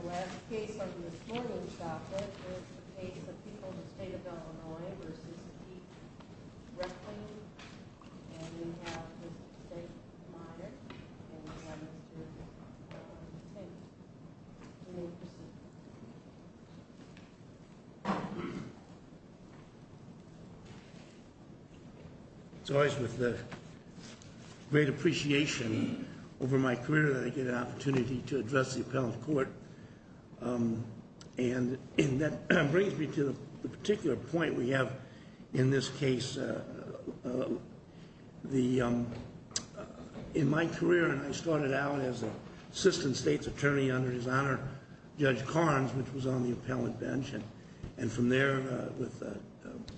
The last case on Ms. Morgan's docket is the case of people in the state of Illinois v. E. Recklein, and we have Mr. Stegman, the minor, and we have Mr. Hickman. You may proceed. It's always with great appreciation over my career that I get an opportunity to address the appellant court, and that brings me to the particular point we have in this case. In my career, and I started out as an assistant state's attorney under his honor, Judge Carnes, which was on the appellant bench, and from there with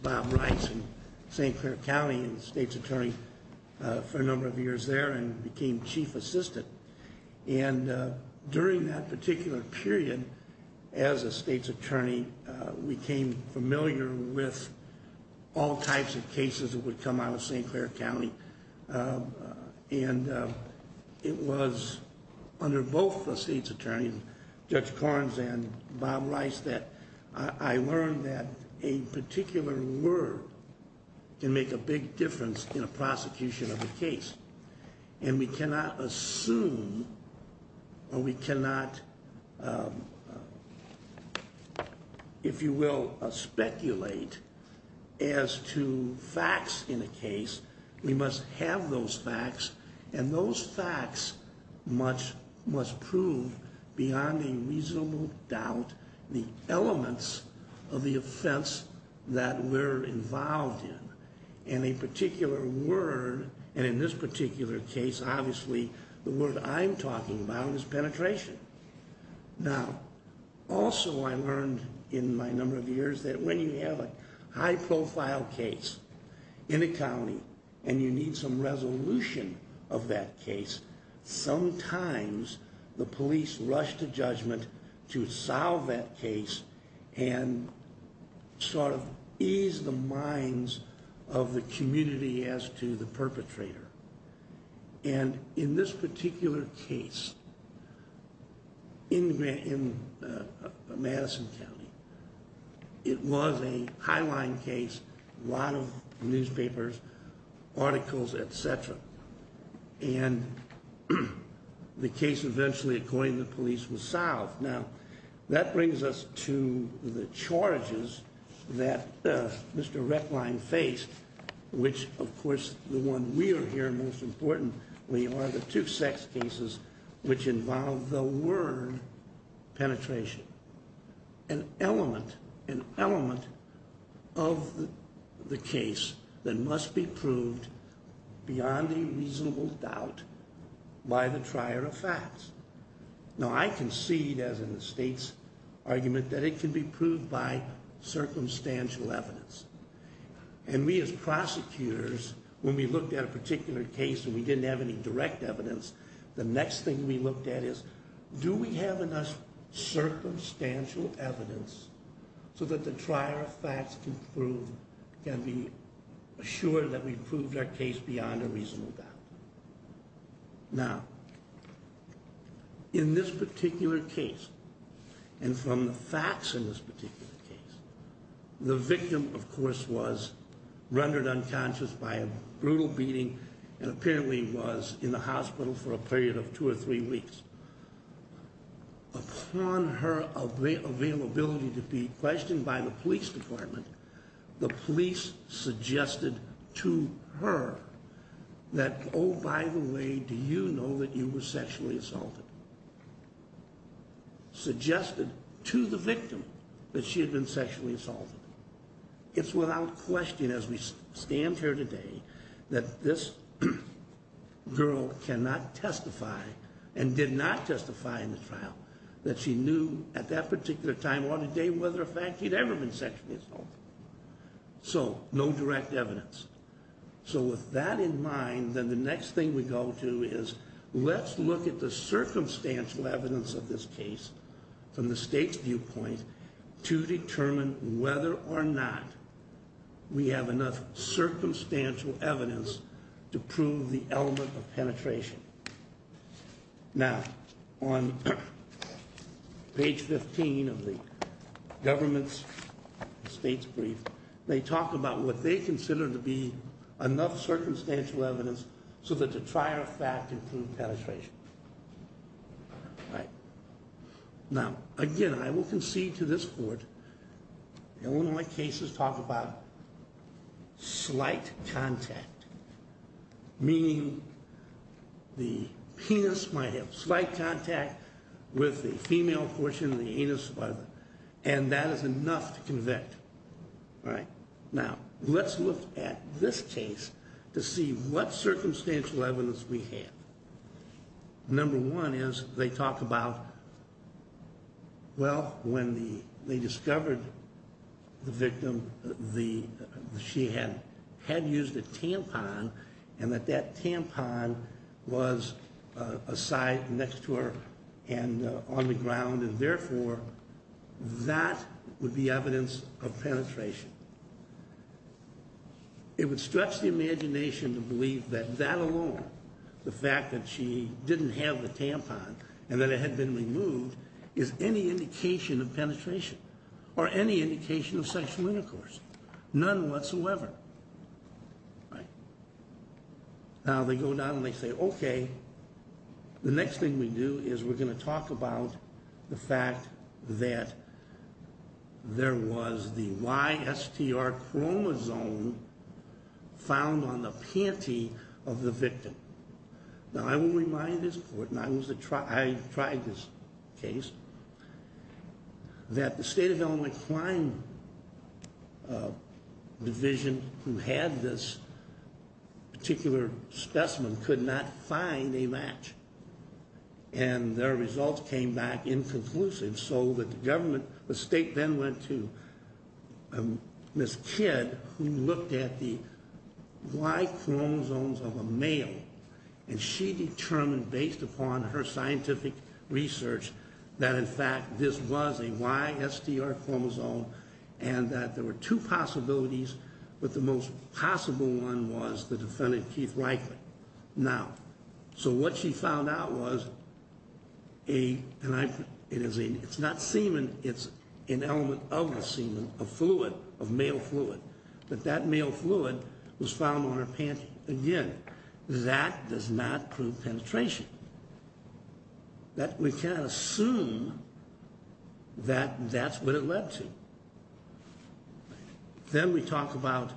Bob Rice in St. Clair County, state's attorney for a number of years there, and became chief assistant. And during that particular period, as a state's attorney, we became familiar with all types of cases that would come out of St. Clair County, and it was under both the state's attorney, Judge Carnes and Bob Rice, that I learned that a particular word can make a big difference in a prosecution of a case. And we cannot assume, or we cannot, if you will, speculate as to facts in a case, we must have those facts, and those facts must prove beyond a reasonable doubt the elements of the offense that we're involved in. And a particular word, and in this particular case, obviously, the word I'm talking about is penetration. Now, also I learned in my number of years that when you have a high-profile case in a county, and you need some resolution of that case, sometimes the police rush to judgment to solve that case and sort of ease the minds of the community as to the perpetrator. And in this particular case, in Madison County, it was a highline case, a lot of newspapers, articles, et cetera. And the case eventually, according to the police, was solved. Now, I concede, as in the state's argument, that it can be proved by circumstantial evidence. And we as prosecutors, when we looked at a particular case and we didn't have any direct evidence, the next thing we looked at is, do we have enough circumstantial evidence so that the trier of facts can be assured that we've proved our case beyond a reasonable doubt? Now, in this particular case, and from the facts in this particular case, the victim, of course, was rendered unconscious by a brutal beating and apparently was in the hospital for a period of two or three weeks. Upon her availability to be questioned by the police department, the police suggested to her that, oh, by the way, do you know that you were sexually assaulted? Suggested to the victim that she had been sexually assaulted. It's without question, as we stand here today, that this girl cannot testify, and did not testify in the trial, that she knew at that particular time or the day whether or fact she'd ever been sexually assaulted. So, no direct evidence. So, with that in mind, then the next thing we go to is, let's look at the circumstantial evidence of this case from the state's viewpoint to determine whether or not we have enough circumstantial evidence to prove the element of penetration. Now, on page 15 of the government's state's brief, they talk about what they consider to be enough circumstantial evidence so that the trier of fact can prove penetration. Now, again, I will concede to this court that one of my cases talk about slight contact, meaning the penis might have slight contact with the female portion of the anus, and that is enough to convict. Now, let's look at this case to see what circumstantial evidence we have. Number one is, they talk about, well, when they discovered the victim, she had used a tampon, and that that tampon was a side next to her and on the ground, and therefore, that would be evidence of penetration. It would stretch the imagination to believe that that alone, the fact that she didn't have the tampon and that it had been removed, is any indication of penetration or any indication of sexual intercourse, none whatsoever. Now, they go down and they say, okay, the next thing we do is we're going to talk about the fact that there was the YSTR chromosome found on the panty of the victim. Now, I will remind this court, and I tried this case, that the State of Illinois Crime Division, who had this particular specimen, could not find a match. And their results came back inconclusive, so that the government, the state then went to Ms. Kidd, who looked at the Y chromosomes of a male, and she determined, based upon her scientific research, that in fact, this was a YSTR chromosome, and that there were two possibilities, but the most possible one was the defendant, Keith Reichert. Now, so what she found out was a, it's not semen, it's an element of the semen, a fluid, a male fluid, but that male fluid was found on her panty again. That does not prove penetration. We cannot assume that that's what it led to. Then we talk about,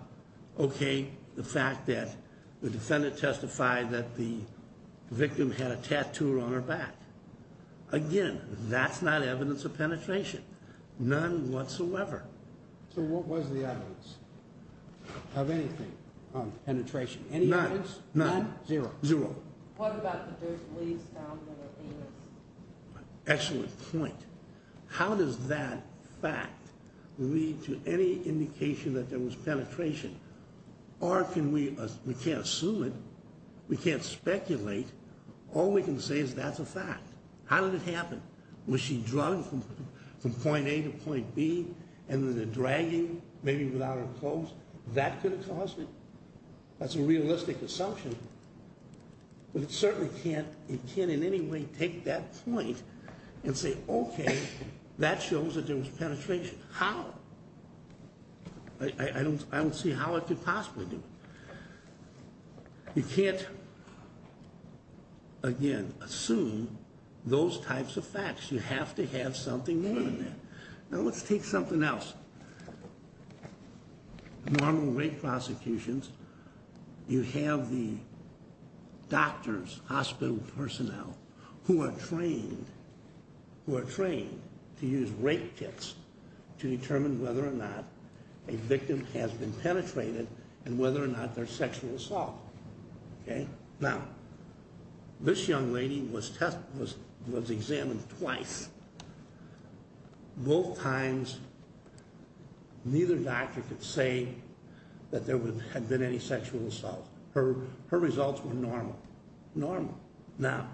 okay, the fact that the defendant testified that the victim had a tattoo on her back. Again, that's not evidence of penetration. None whatsoever. So what was the evidence? Of anything? Of penetration? None. Any evidence? None. Zero. Zero. What about the dirt leaves found on her penis? Excellent point. How does that fact lead to any indication that there was penetration? Or can we, we can't assume it. We can't speculate. All we can say is that's a fact. How did it happen? Was she drunk from point A to point B, and then dragging, maybe without her clothes? That could have caused it. That's a realistic assumption. But it certainly can't, it can't in any way take that point and say, okay, that shows that there was penetration. How? I don't see how it could possibly do it. You can't, again, assume those types of facts. You have to have something more than that. Now let's take something else. Normal rape prosecutions, you have the doctors, hospital personnel, who are trained, who are trained to use rape kits to determine whether or not a victim has been penetrated and whether or not there's sexual assault. Okay? Now, this young lady was tested, was examined twice. Both times, neither doctor could say that there had been any sexual assault. Her results were normal. Normal. Now,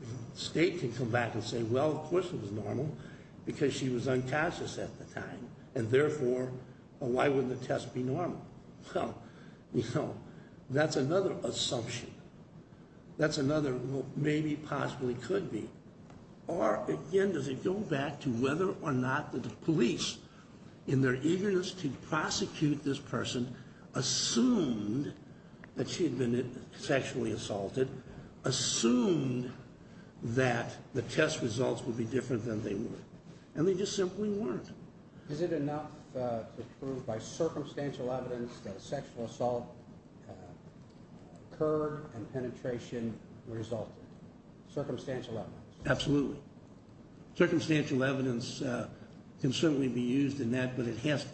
the state can come back and say, well, of course it was normal, because she was unconscious at the time. And therefore, why wouldn't the test be normal? Well, you know, that's another assumption. That's another, well, maybe, possibly could be. Or, again, does it go back to whether or not the police, in their eagerness to prosecute this person, assumed that she had been sexually assaulted, assumed that the test results would be different than they were. And they just simply weren't. Is it enough to prove by circumstantial evidence that sexual assault occurred and penetration resulted? Circumstantial evidence. Absolutely. Circumstantial evidence can certainly be used in that, but it has to.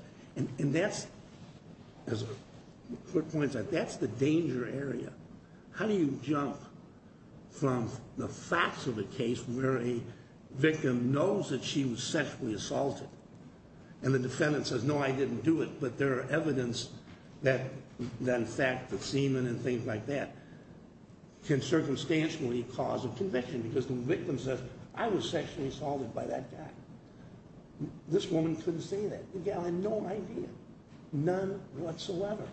And that's, as Kurt points out, that's the danger area. How do you jump from the facts of a case where a victim knows that she was sexually assaulted, and the defendant says, no, I didn't do it, but there are evidence that in fact the semen and things like that can circumstantially cause a conviction, because the victim says, I was sexually assaulted by that guy. This woman couldn't say that. The guy had no idea. None whatsoever.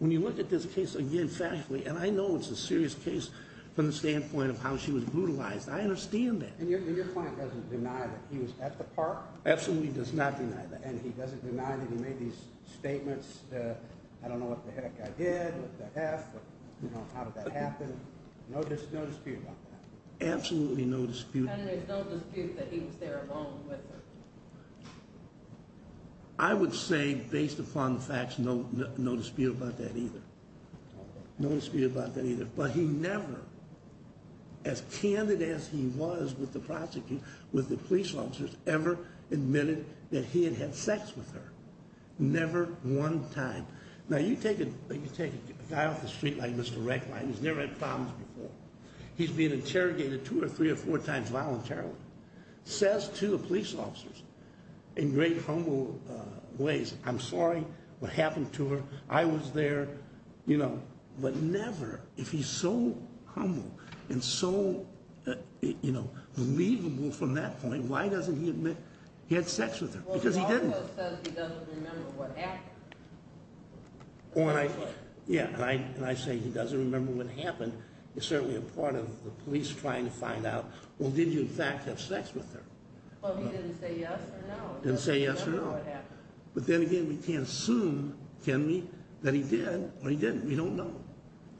When you look at this case again factually, and I know it's a serious case from the standpoint of how she was brutalized, I understand that. And your client doesn't deny that he was at the park? Absolutely does not deny that. And he doesn't deny that he made these statements, I don't know what the heck I did, what the heck, how did that happen? No dispute about that? Absolutely no dispute. And there's no dispute that he was there alone with her? I would say, based upon the facts, no dispute about that either. No dispute about that either. But he never, as candid as he was with the police officers, ever admitted that he had had sex with her. Never one time. Now you take a guy off the street like Mr. Recklein who's never had problems before, he's been interrogated two or three or four times voluntarily, says to the police officers in great humble ways, I'm sorry what happened to her, I was there, you know, but never, if he's so humble and so, you know, believable from that point, why doesn't he admit he had sex with her? Because he didn't. Because he doesn't remember what happened. Yeah, and I say he doesn't remember what happened, it's certainly a part of the police trying to find out, well did you in fact have sex with her? Well he didn't say yes or no. Didn't say yes or no. But then again, we can't assume, can we, that he did or he didn't, we don't know.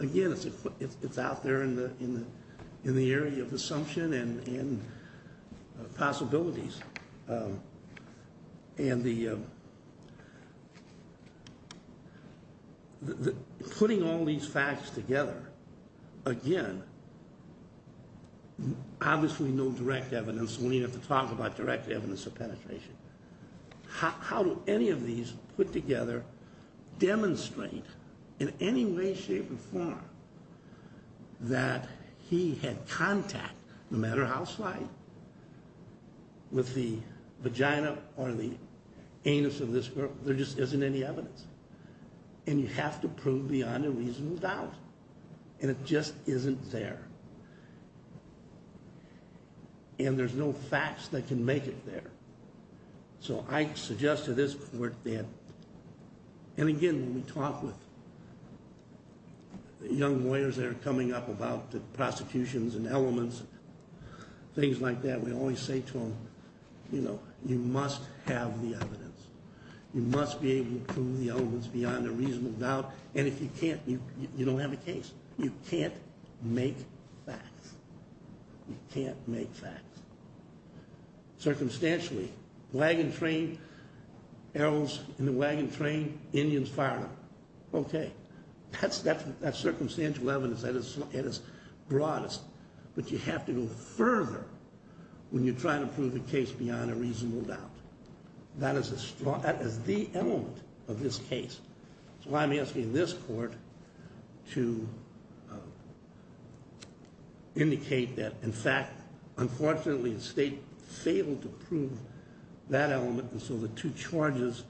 Again, it's out there in the area of assumption and possibilities. And the, putting all these facts together, again, obviously no direct evidence, we don't even have to talk about direct evidence of penetration. How do any of these put together demonstrate in any way, shape, or form that he had contact, no matter how slight, with the vagina or the anus of this girl, there just isn't any evidence. And you have to prove beyond a reasonable doubt. And it just isn't there. And there's no facts that can make it there. So I suggest to this, we're dead. And again, when we talk with young lawyers that are coming up about the prosecutions and elements, things like that, we always say to them, you know, you must have the evidence. You must be able to prove the elements beyond a reasonable doubt. And if you can't, you don't have a case. You can't make facts. You can't make facts. Circumstantially, wagon train, arrows in the wagon train, Indians firing. Okay, that's circumstantial evidence that is broadest. But you have to go further when you're trying to prove a case beyond a reasonable doubt. That is the element of this case. That's why I'm asking this court to indicate that, in fact, unfortunately the state failed to prove that element. And so the two charges,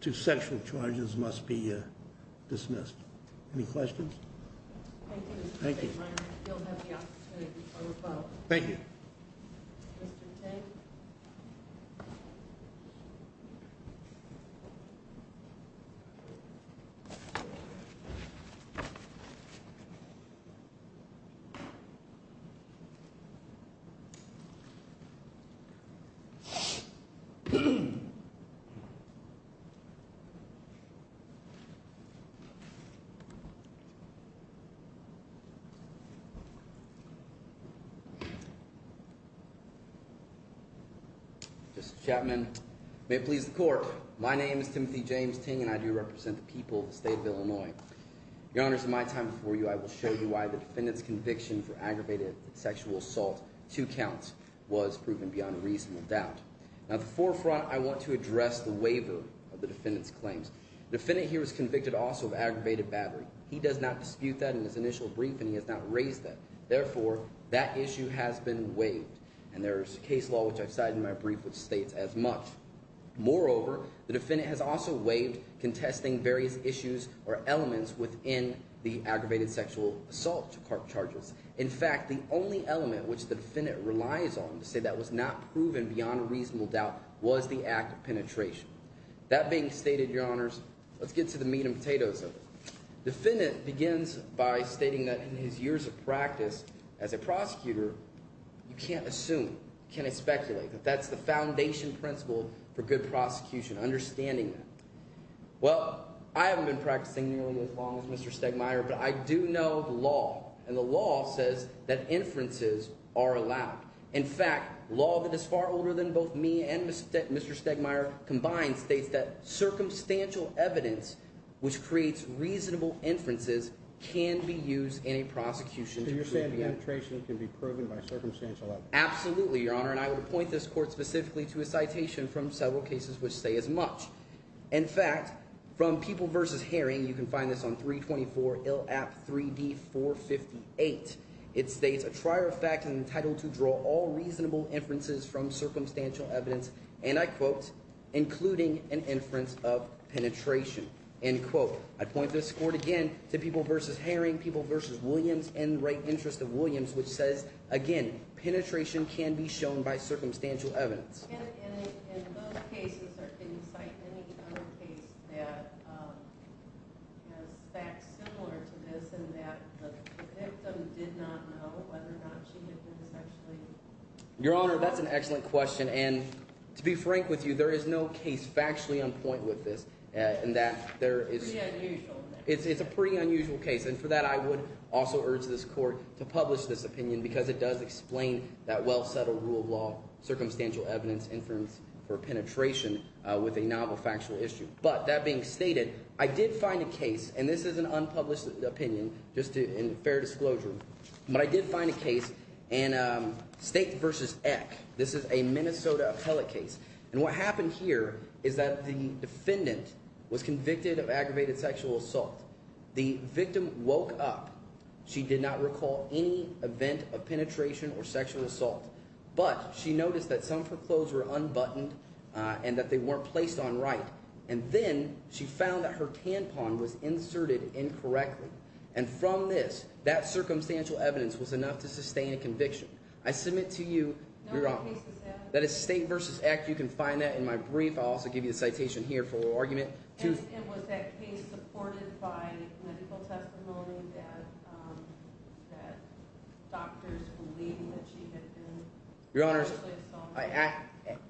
two sexual charges, must be dismissed. Any questions? Thank you. Thank you. Thank you. Mr. Chapman, may it please the court. My name is Timothy James Ting, and I do represent the people of the state of Illinois. Your Honors, in my time before you, I will show you why the defendant's conviction for aggravated sexual assault, two counts, was proven beyond a reasonable doubt. Now, at the forefront, I want to address the waiver of the defendant's claims. The defendant here was convicted also of aggravated battery. He does not dispute that in his initial brief, and he has not raised that. Therefore, that issue has been waived, and there is a case law, which I've cited in my brief, which states as much. Moreover, the defendant has also waived contesting various issues or elements within the aggravated sexual assault charges. In fact, the only element which the defendant relies on to say that was not proven beyond a reasonable doubt was the act of penetration. That being stated, Your Honors, let's get to the meat and potatoes of it. The defendant begins by stating that in his years of practice as a prosecutor, you can't assume, you can't speculate, that that's the foundation principle for good prosecution, understanding that. Well, I haven't been practicing nearly as long as Mr. Stegmaier, but I do know the law, and the law says that inferences are allowed. In fact, law that is far older than both me and Mr. Stegmaier combined states that circumstantial evidence, which creates reasonable inferences, can be used in a prosecution. So you're saying penetration can be proven by circumstantial evidence? Absolutely, Your Honor, and I would appoint this court specifically to a citation from several cases which say as much. In fact, from People v. Herring, you can find this on 324 Ill App 3D 458. It states, a trier of fact is entitled to draw all reasonable inferences from circumstantial evidence, and I quote, including an inference of penetration, end quote. I appoint this court again to People v. Herring, People v. Williams, and the Right Interest of Williams, which says, again, penetration can be shown by circumstantial evidence. And in those cases, can you cite any other case that has facts similar to this in that the victim did not know whether or not she had been sexually… Your Honor, that's an excellent question, and to be frank with you, there is no case factually on point with this in that there is… It's pretty unusual. So it's a pretty unusual case, and for that I would also urge this court to publish this opinion because it does explain that well-settled rule of law, circumstantial evidence, inference for penetration with a novel factual issue. But that being stated, I did find a case, and this is an unpublished opinion, just in fair disclosure, but I did find a case in State v. Eck. This is a Minnesota appellate case, and what happened here is that the defendant was convicted of aggravated sexual assault. The victim woke up. She did not recall any event of penetration or sexual assault, but she noticed that some of her clothes were unbuttoned and that they weren't placed on right. And then she found that her tampon was inserted incorrectly, and from this, that circumstantial evidence was enough to sustain a conviction. I submit to you, Your Honor, that it's State v. Eck. You can find that in my brief. I'll also give you the citation here for argument. And was that case supported by medical testimony that doctors believed that she had been sexually assaulted? Your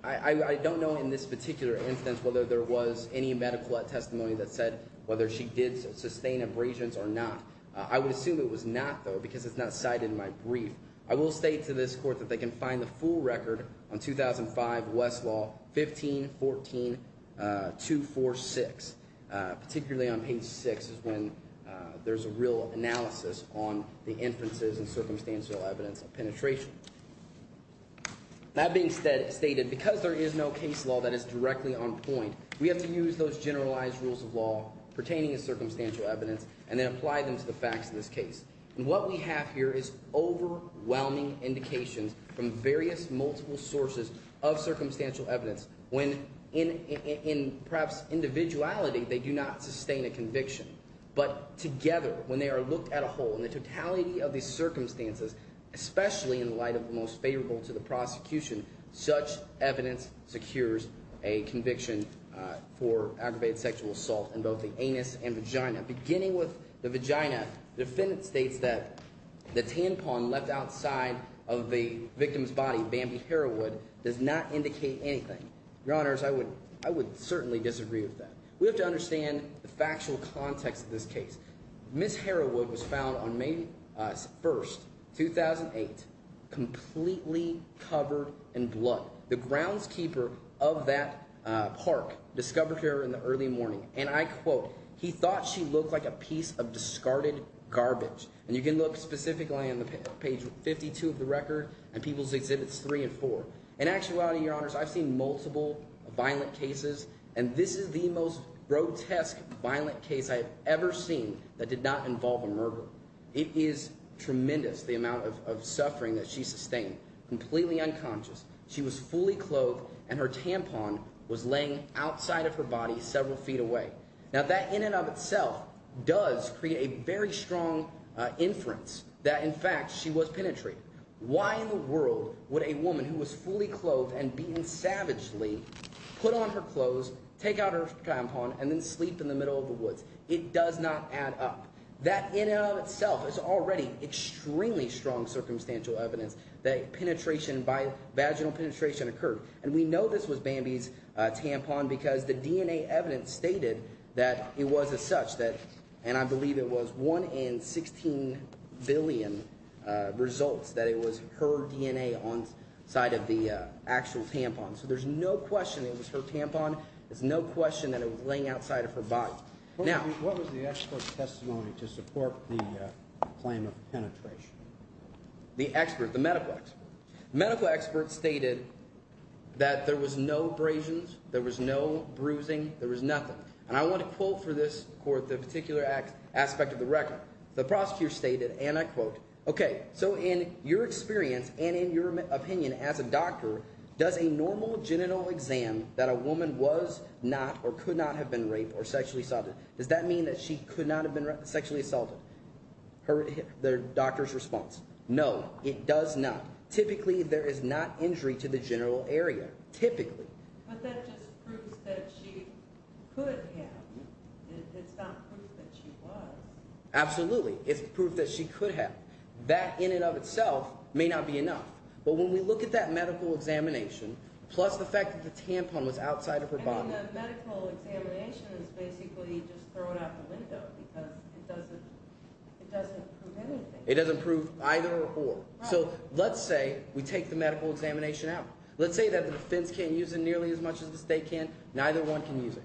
Honor, I don't know in this particular instance whether there was any medical testimony that said whether she did sustain abrasions or not. I would assume it was not, though, because it's not cited in my brief. I will state to this court that they can find the full record on 2005 West Law 1514246. Particularly on page 6 is when there's a real analysis on the inferences and circumstantial evidence of penetration. That being stated, because there is no case law that is directly on point, we have to use those generalized rules of law pertaining to circumstantial evidence and then apply them to the facts of this case. And what we have here is overwhelming indications from various multiple sources of circumstantial evidence when, in perhaps individuality, they do not sustain a conviction. But together, when they are looked at a whole, in the totality of these circumstances, especially in light of the most favorable to the prosecution, such evidence secures a conviction for aggravated sexual assault in both the anus and vagina. Beginning with the vagina, the defendant states that the tampon left outside of the victim's body, Bambi Harawood, does not indicate anything. Your Honors, I would certainly disagree with that. We have to understand the factual context of this case. Ms. Harawood was found on May 1, 2008, completely covered in blood. The groundskeeper of that park discovered her in the early morning, and I quote, he thought she looked like a piece of discarded garbage. And you can look specifically on page 52 of the record and People's Exhibits 3 and 4. In actuality, Your Honors, I've seen multiple violent cases, and this is the most grotesque violent case I have ever seen that did not involve a murder. It is tremendous, the amount of suffering that she sustained, completely unconscious. She was fully clothed, and her tampon was laying outside of her body several feet away. Now, that in and of itself does create a very strong inference that, in fact, she was penetrated. Why in the world would a woman who was fully clothed and beaten savagely put on her clothes, take out her tampon, and then sleep in the middle of the woods? It does not add up. That in and of itself is already extremely strong circumstantial evidence that penetration, vaginal penetration occurred. And we know this was Bambi's tampon because the DNA evidence stated that it was as such that – and I believe it was 1 in 16 billion results that it was her DNA on the side of the actual tampon. So there's no question it was her tampon. There's no question that it was laying outside of her body. Now… What was the expert's testimony to support the claim of penetration? The expert, the medical expert? The medical expert stated that there was no abrasions. There was no bruising. There was nothing. And I want to quote for this court the particular aspect of the record. The prosecutor stated, and I quote, okay, so in your experience and in your opinion as a doctor, does a normal genital exam that a woman was not or could not have been raped or sexually assaulted, does that mean that she could not have been sexually assaulted? The doctor's response. No, it does not. Typically there is not injury to the genital area. Typically. But that just proves that she could have. It's not proof that she was. Absolutely. It's proof that she could have. That in and of itself may not be enough. But when we look at that medical examination, plus the fact that the tampon was outside of her body… I mean the medical examination is basically just throwing out the window because it doesn't prove anything. It doesn't prove either or. So let's say we take the medical examination out. Let's say that the defense can't use it nearly as much as the state can. Neither one can use it.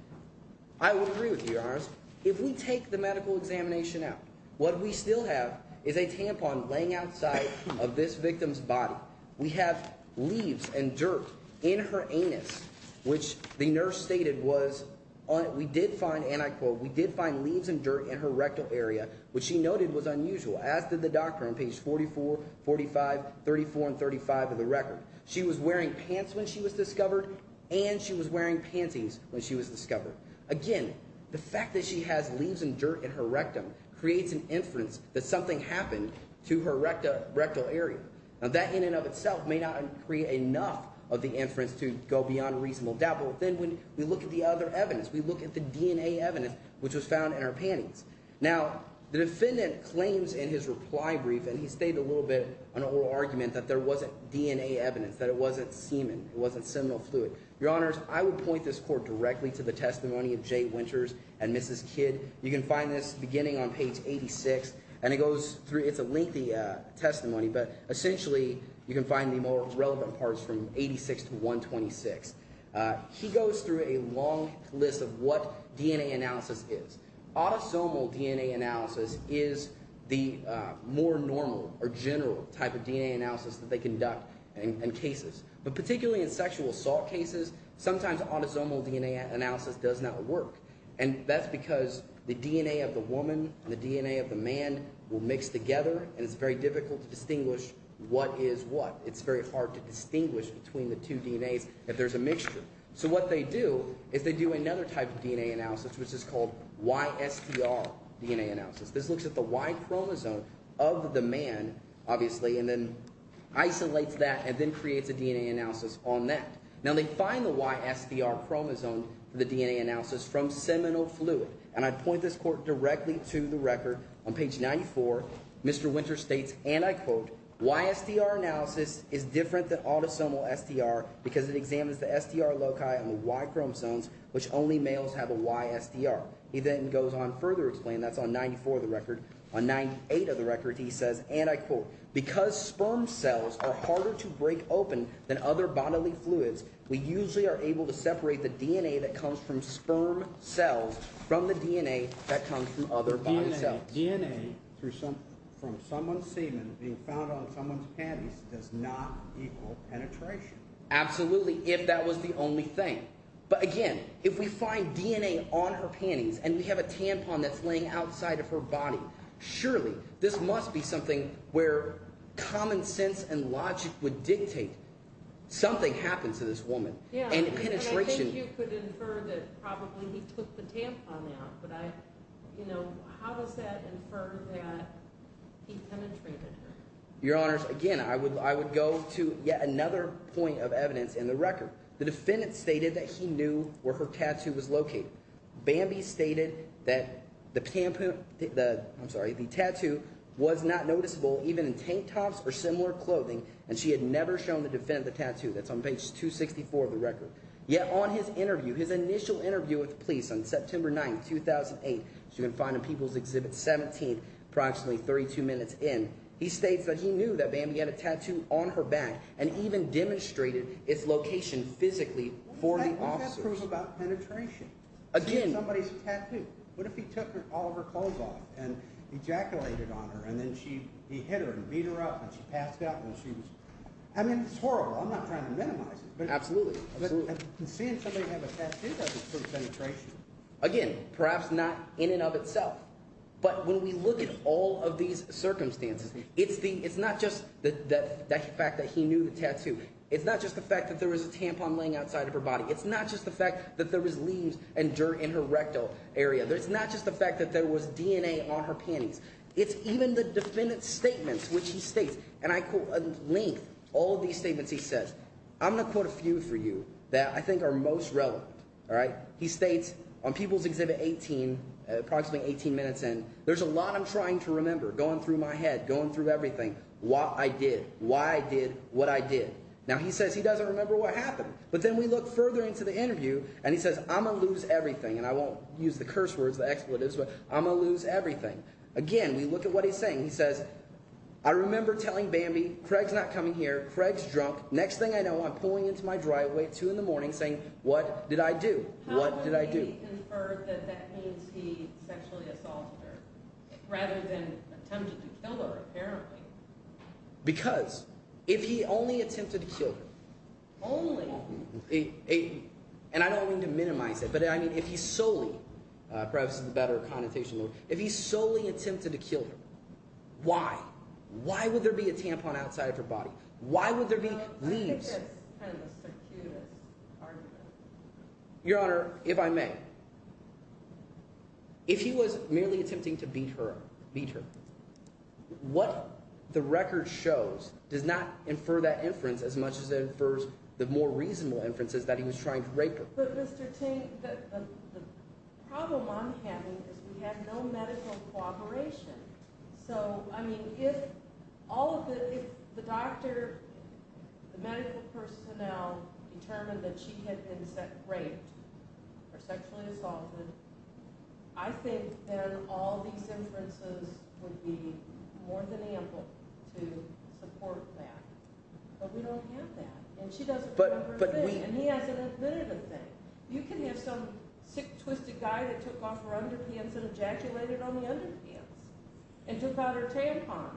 I would agree with you, Your Honor. If we take the medical examination out, what we still have is a tampon laying outside of this victim's body. We have leaves and dirt in her anus, which the nurse stated was… We did find, and I quote, we did find leaves and dirt in her rectal area, which she noted was unusual, as did the doctor on pages 44, 45, 34, and 35 of the record. She was wearing pants when she was discovered, and she was wearing panties when she was discovered. Again, the fact that she has leaves and dirt in her rectum creates an inference that something happened to her rectal area. Now, that in and of itself may not create enough of the inference to go beyond reasonable doubt. But then when we look at the other evidence, we look at the DNA evidence, which was found in her panties. Now, the defendant claims in his reply brief, and he stated a little bit in an oral argument that there wasn't DNA evidence, that it wasn't semen, it wasn't seminal fluid. Your Honors, I would point this court directly to the testimony of Jay Winters and Mrs. Kidd. You can find this beginning on page 86, and it goes through – it's a lengthy testimony, but essentially you can find the more relevant parts from 86 to 126. He goes through a long list of what DNA analysis is. Autosomal DNA analysis is the more normal or general type of DNA analysis that they conduct in cases. But particularly in sexual assault cases, sometimes autosomal DNA analysis does not work. And that's because the DNA of the woman and the DNA of the man will mix together, and it's very difficult to distinguish what is what. It's very hard to distinguish between the two DNAs if there's a mixture. So what they do is they do another type of DNA analysis, which is called YSTR DNA analysis. This looks at the Y chromosome of the man, obviously, and then isolates that and then creates a DNA analysis on that. Now, they find the YSTR chromosome for the DNA analysis from seminal fluid, and I'd point this court directly to the record. On page 94, Mr. Winters states, and I quote, YSTR analysis is different than autosomal STR because it examines the STR loci on the Y chromosomes, which only males have a YSTR. He then goes on to further explain. That's on 94 of the record. On 98 of the record, he says, and I quote, because sperm cells are harder to break open than other bodily fluids, we usually are able to separate the DNA that comes from sperm cells from the DNA that comes from other body cells. DNA from someone's semen being found on someone's panties does not equal penetration. Absolutely, if that was the only thing. But again, if we find DNA on her panties and we have a tampon that's laying outside of her body, surely this must be something where common sense and logic would dictate something happened to this woman. And penetration… Yeah, but I think you could infer that probably he took the tampon out, but I – how does that infer that he penetrated her? Your Honors, again, I would go to yet another point of evidence in the record. The defendant stated that he knew where her tattoo was located. Bambi stated that the tampon – I'm sorry – the tattoo was not noticeable even in tank tops or similar clothing, and she had never shown the defendant the tattoo. That's on page 264 of the record. Yet on his interview, his initial interview with the police on September 9, 2008, which you can find in People's Exhibit 17 approximately 32 minutes in, he states that he knew that Bambi had a tattoo on her back and even demonstrated its location physically for the officer. What does that prove about penetration? Again… She had somebody's tattoo. What if he took all of her clothes off and ejaculated on her, and then he hit her and beat her up and she passed out and she was – I mean it's horrible. I'm not trying to minimize it. Absolutely. Seeing somebody have a tattoo doesn't prove penetration. Again, perhaps not in and of itself, but when we look at all of these circumstances, it's not just the fact that he knew the tattoo. It's not just the fact that there was a tampon laying outside of her body. It's not just the fact that there was leaves and dirt in her rectal area. It's not just the fact that there was DNA on her panties. It's even the defendant's statements, which he states, and I quote at length all of these statements he says. I'm going to quote a few for you that I think are most relevant. He states on People's Exhibit 18, approximately 18 minutes in, there's a lot I'm trying to remember going through my head, going through everything, what I did, why I did what I did. Now, he says he doesn't remember what happened. But then we look further into the interview, and he says I'm going to lose everything, and I won't use the curse words, the expletives, but I'm going to lose everything. Again, we look at what he's saying. He says I remember telling Bambi Craig's not coming here. Craig's drunk. Next thing I know, I'm pulling into my driveway at 2 in the morning saying what did I do? What did I do? How can he infer that that means he sexually assaulted her rather than attempted to kill her apparently? Because if he only attempted to kill her… Only? And I don't mean to minimize it, but, I mean, if he solely – perhaps this is a better connotation. If he solely attempted to kill her, why? Why would there be a tampon outside of her body? Why would there be leaves? I think that's kind of the circuitous argument. Your Honor, if I may, if he was merely attempting to beat her, what the record shows does not infer that inference as much as it infers the more reasonable inferences that he was trying to rape her. But, Mr. Tink, the problem I'm having is we have no medical cooperation. So, I mean, if all of the – if the doctor, the medical personnel determined that she had been raped or sexually assaulted, I think then all these inferences would be more than ample to support that. But we don't have that. And she doesn't remember a thing, and he hasn't admitted a thing. You can have some sick, twisted guy that took off her underpants and ejaculated on the underpants and took out her tampon.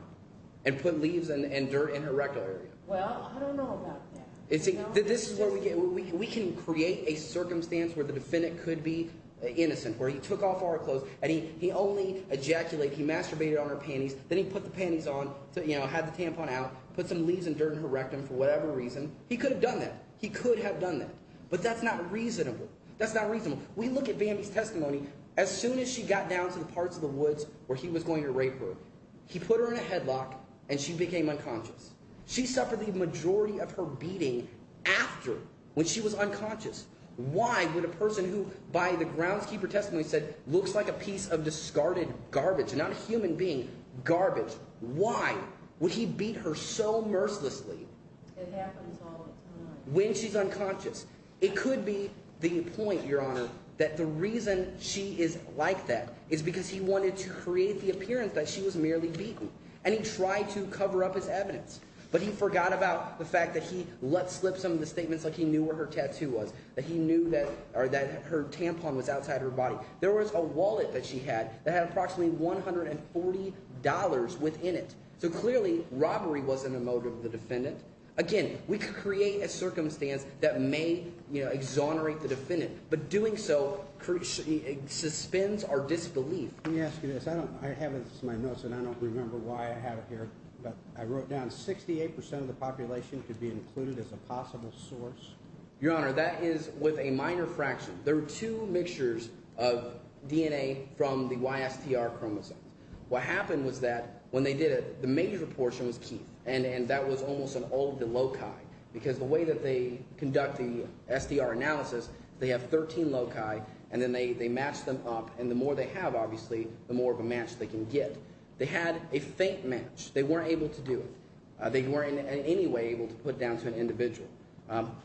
And put leaves and dirt in her rectum. Well, I don't know about that. We can create a circumstance where the defendant could be innocent, where he took off our clothes, and he only ejaculated. He masturbated on her panties. Then he put the panties on, had the tampon out, put some leaves and dirt in her rectum for whatever reason. He could have done that. He could have done that. But that's not reasonable. That's not reasonable. We look at Bambi's testimony. As soon as she got down to the parts of the woods where he was going to rape her, he put her in a headlock, and she became unconscious. She suffered the majority of her beating after, when she was unconscious. Why would a person who, by the groundskeeper testimony said, looks like a piece of discarded garbage, not a human being, garbage, why would he beat her so mercilessly? It happens all the time. When she's unconscious. It could be the point, Your Honor, that the reason she is like that is because he wanted to create the appearance that she was merely beaten. And he tried to cover up his evidence. But he forgot about the fact that he let slip some of the statements, like he knew where her tattoo was, that he knew that her tampon was outside her body. There was a wallet that she had that had approximately $140 within it. So clearly robbery wasn't a motive of the defendant. Again, we could create a circumstance that may exonerate the defendant. But doing so suspends our disbelief. Let me ask you this. I have this in my notes, and I don't remember why I have it here, but I wrote down 68% of the population could be included as a possible source. Your Honor, that is with a minor fraction. There are two mixtures of DNA from the YSTR chromosomes. What happened was that when they did it, the major portion was Keith, and that was almost an old loci. Because the way that they conduct the SDR analysis, they have 13 loci, and then they match them up. And the more they have, obviously, the more of a match they can get. They had a faint match. They weren't able to do it. They weren't in any way able to put down to an individual.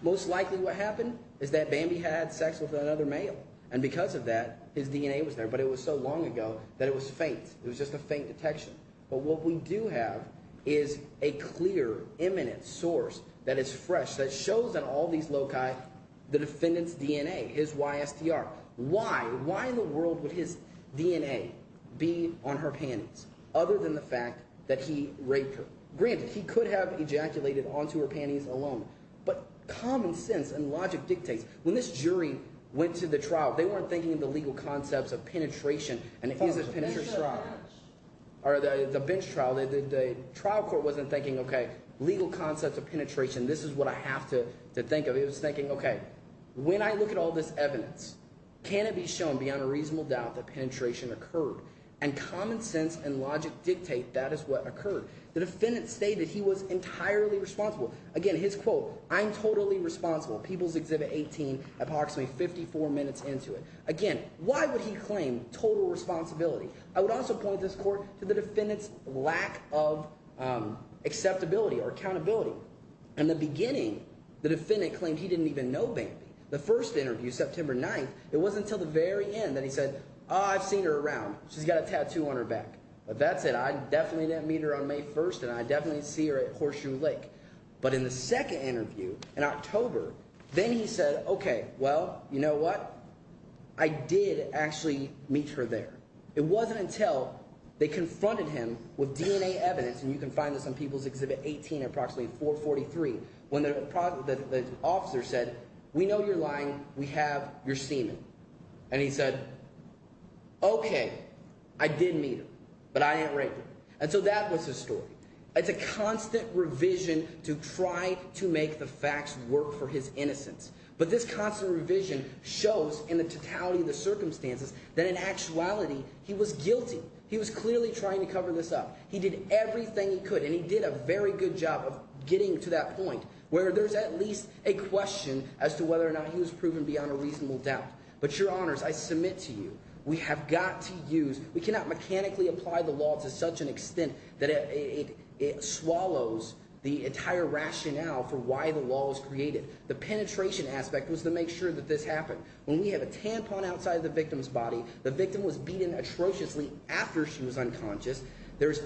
Most likely what happened is that Bambi had sex with another male. And because of that, his DNA was there. But it was so long ago that it was faint. It was just a faint detection. But what we do have is a clear, imminent source that is fresh that shows on all these loci the defendant's DNA, his YSTR. Why? Why in the world would his DNA be on her panties other than the fact that he raped her? Granted, he could have ejaculated onto her panties alone, but common sense and logic dictates. When this jury went to the trial, they weren't thinking of the legal concepts of penetration and is it penetration? Or the bench trial, the trial court wasn't thinking, okay, legal concepts of penetration, this is what I have to think of. It was thinking, okay, when I look at all this evidence, can it be shown beyond a reasonable doubt that penetration occurred? And common sense and logic dictate that is what occurred. The defendant stated he was entirely responsible. Again, his quote, I'm totally responsible, People's Exhibit 18, approximately 54 minutes into it. Again, why would he claim total responsibility? I would also point this court to the defendant's lack of acceptability or accountability. In the beginning, the defendant claimed he didn't even know Bambi. The first interview, September 9th, it wasn't until the very end that he said, oh, I've seen her around. She's got a tattoo on her back. But that's it. I definitely didn't meet her on May 1st, and I definitely didn't see her at Horseshoe Lake. But in the second interview in October, then he said, okay, well, you know what? I did actually meet her there. It wasn't until they confronted him with DNA evidence, and you can find this on People's Exhibit 18 at approximately 443, when the officer said, we know you're lying. We have your semen. And he said, okay, I did meet her, but I didn't rape her. And so that was his story. It's a constant revision to try to make the facts work for his innocence. But this constant revision shows in the totality of the circumstances that in actuality he was guilty. He was clearly trying to cover this up. He did everything he could, and he did a very good job of getting to that point where there's at least a question as to whether or not he was proven beyond a reasonable doubt. But, Your Honors, I submit to you, we have got to use – we cannot mechanically apply the law to such an extent that it swallows the entire rationale for why the law was created. The penetration aspect was to make sure that this happened. When we have a tampon outside of the victim's body, the victim was beaten atrociously after she was unconscious. There's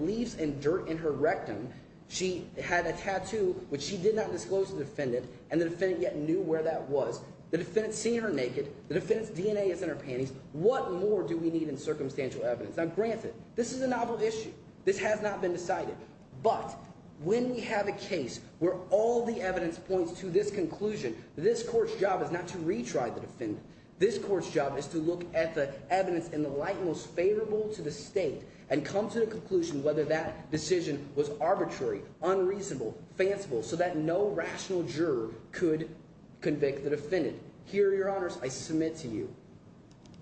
leaves and dirt in her rectum. She had a tattoo, which she did not disclose to the defendant, and the defendant yet knew where that was. The defendant's seen her naked. The defendant's DNA is in her panties. What more do we need in circumstantial evidence? Now, granted, this is a novel issue. This has not been decided. But when we have a case where all the evidence points to this conclusion, this court's job is not to retry the defendant. This court's job is to look at the evidence in the light most favorable to the state and come to the conclusion whether that decision was arbitrary, unreasonable, fanciful, so that no rational juror could convict the defendant. Here, Your Honors, I submit to you.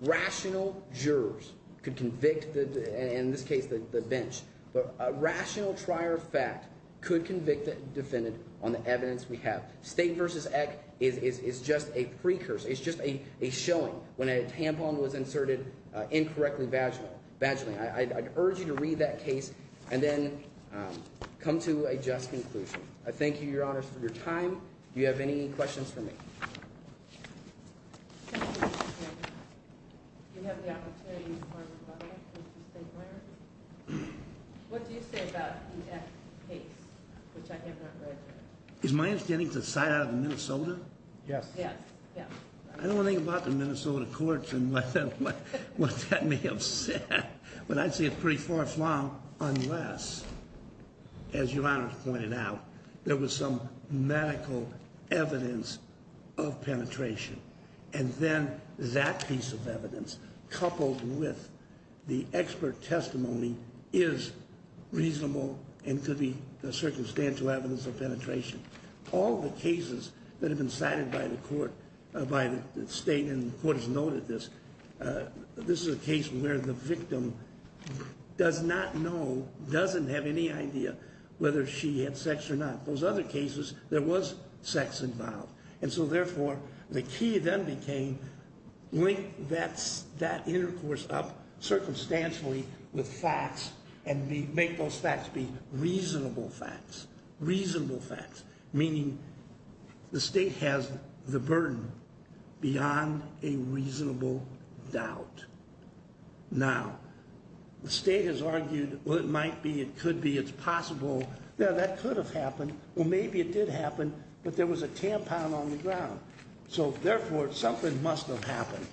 Rational jurors could convict, in this case, the bench. But a rational trier of fact could convict the defendant on the evidence we have. State v. Eck is just a precursor. It's just a showing when a tampon was inserted incorrectly vaginally. I'd urge you to read that case and then come to a just conclusion. I thank you, Your Honors, for your time. Do you have any questions for me? Do you have the opportunity, Mr. State Lawyer? What do you say about the Eck case, which I have not read yet? Is my understanding it's a side out of Minnesota? Yes. I don't want to think about the Minnesota courts and what that may have said. But I'd say it's pretty far flung unless, as Your Honors pointed out, there was some medical evidence of penetration. And then that piece of evidence, coupled with the expert testimony, is reasonable and could be circumstantial evidence of penetration. All the cases that have been cited by the state, and the court has noted this, this is a case where the victim does not know, doesn't have any idea, whether she had sex or not. Those other cases, there was sex involved. And so, therefore, the key then became link that intercourse up circumstantially with facts and make those facts be reasonable facts. Reasonable facts, meaning the state has the burden beyond a reasonable doubt. Now, the state has argued, well, it might be, it could be, it's possible. Now, that could have happened, or maybe it did happen, but there was a tampon on the ground. So, therefore, something must have happened.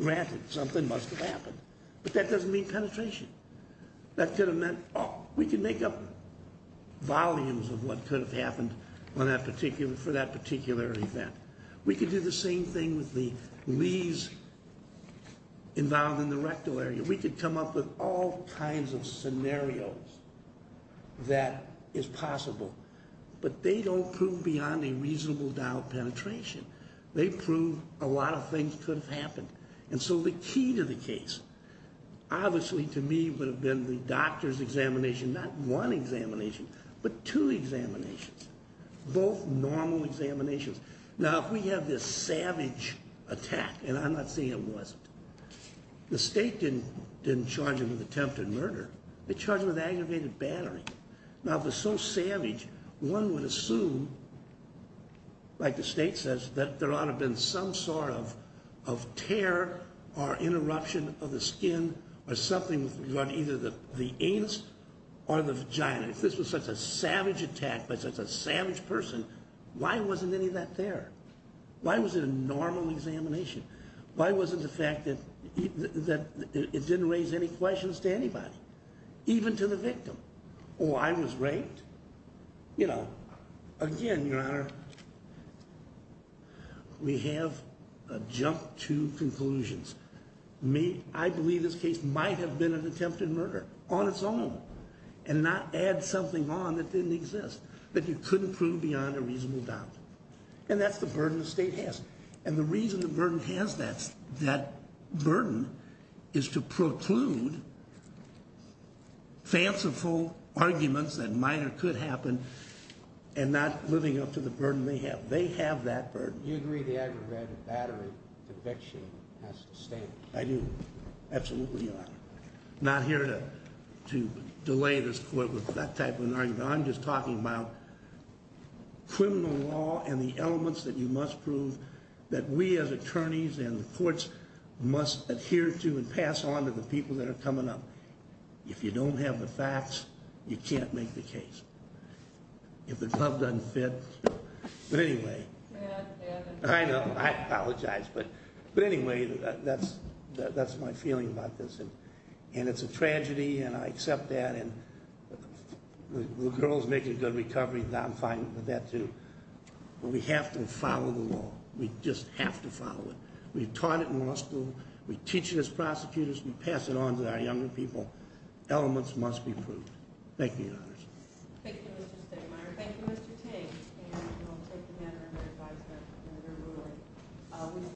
Granted, something must have happened. But that doesn't mean penetration. That could have meant, oh, we could make up volumes of what could have happened for that particular event. We could do the same thing with the leaves involved in the rectal area. We could come up with all kinds of scenarios that is possible. But they don't prove beyond a reasonable doubt penetration. They prove a lot of things could have happened. And so the key to the case, obviously, to me, would have been the doctor's examination. Not one examination, but two examinations. Both normal examinations. Now, if we have this savage attack, and I'm not saying it wasn't. The state didn't charge him with attempted murder. They charged him with aggravated battery. Now, if it's so savage, one would assume, like the state says, that there ought to have been some sort of tear or interruption of the skin or something with regard to either the anus or the vagina. If this was such a savage attack by such a savage person, why wasn't any of that there? Why was it a normal examination? Why wasn't the fact that it didn't raise any questions to anybody, even to the victim? Oh, I was raped? You know, again, Your Honor, we have jumped to conclusions. I believe this case might have been an attempted murder on its own and not add something on that didn't exist that you couldn't prove beyond a reasonable doubt. And that's the burden the state has. And the reason the burden has that burden is to preclude fanciful arguments that might or could happen and not living up to the burden they have. They have that burden. Do you agree the aggravated battery conviction has to stay? I do. Absolutely, Your Honor. I'm not here to delay this court with that type of an argument. I'm just talking about criminal law and the elements that you must prove that we as attorneys and the courts must adhere to and pass on to the people that are coming up. If you don't have the facts, you can't make the case. If the glove doesn't fit. But anyway, I know, I apologize. But anyway, that's my feeling about this. And it's a tragedy, and I accept that. And the girl's making a good recovery. I'm fine with that, too. But we have to follow the law. We just have to follow it. We've taught it in law school. We teach it as prosecutors. We pass it on to our younger people. Elements must be proved. Thank you, Your Honors. Thank you, Mr. Stegemeyer. Thank you, Mr. Ting. And I'll take the matter under advisement in the new ruling.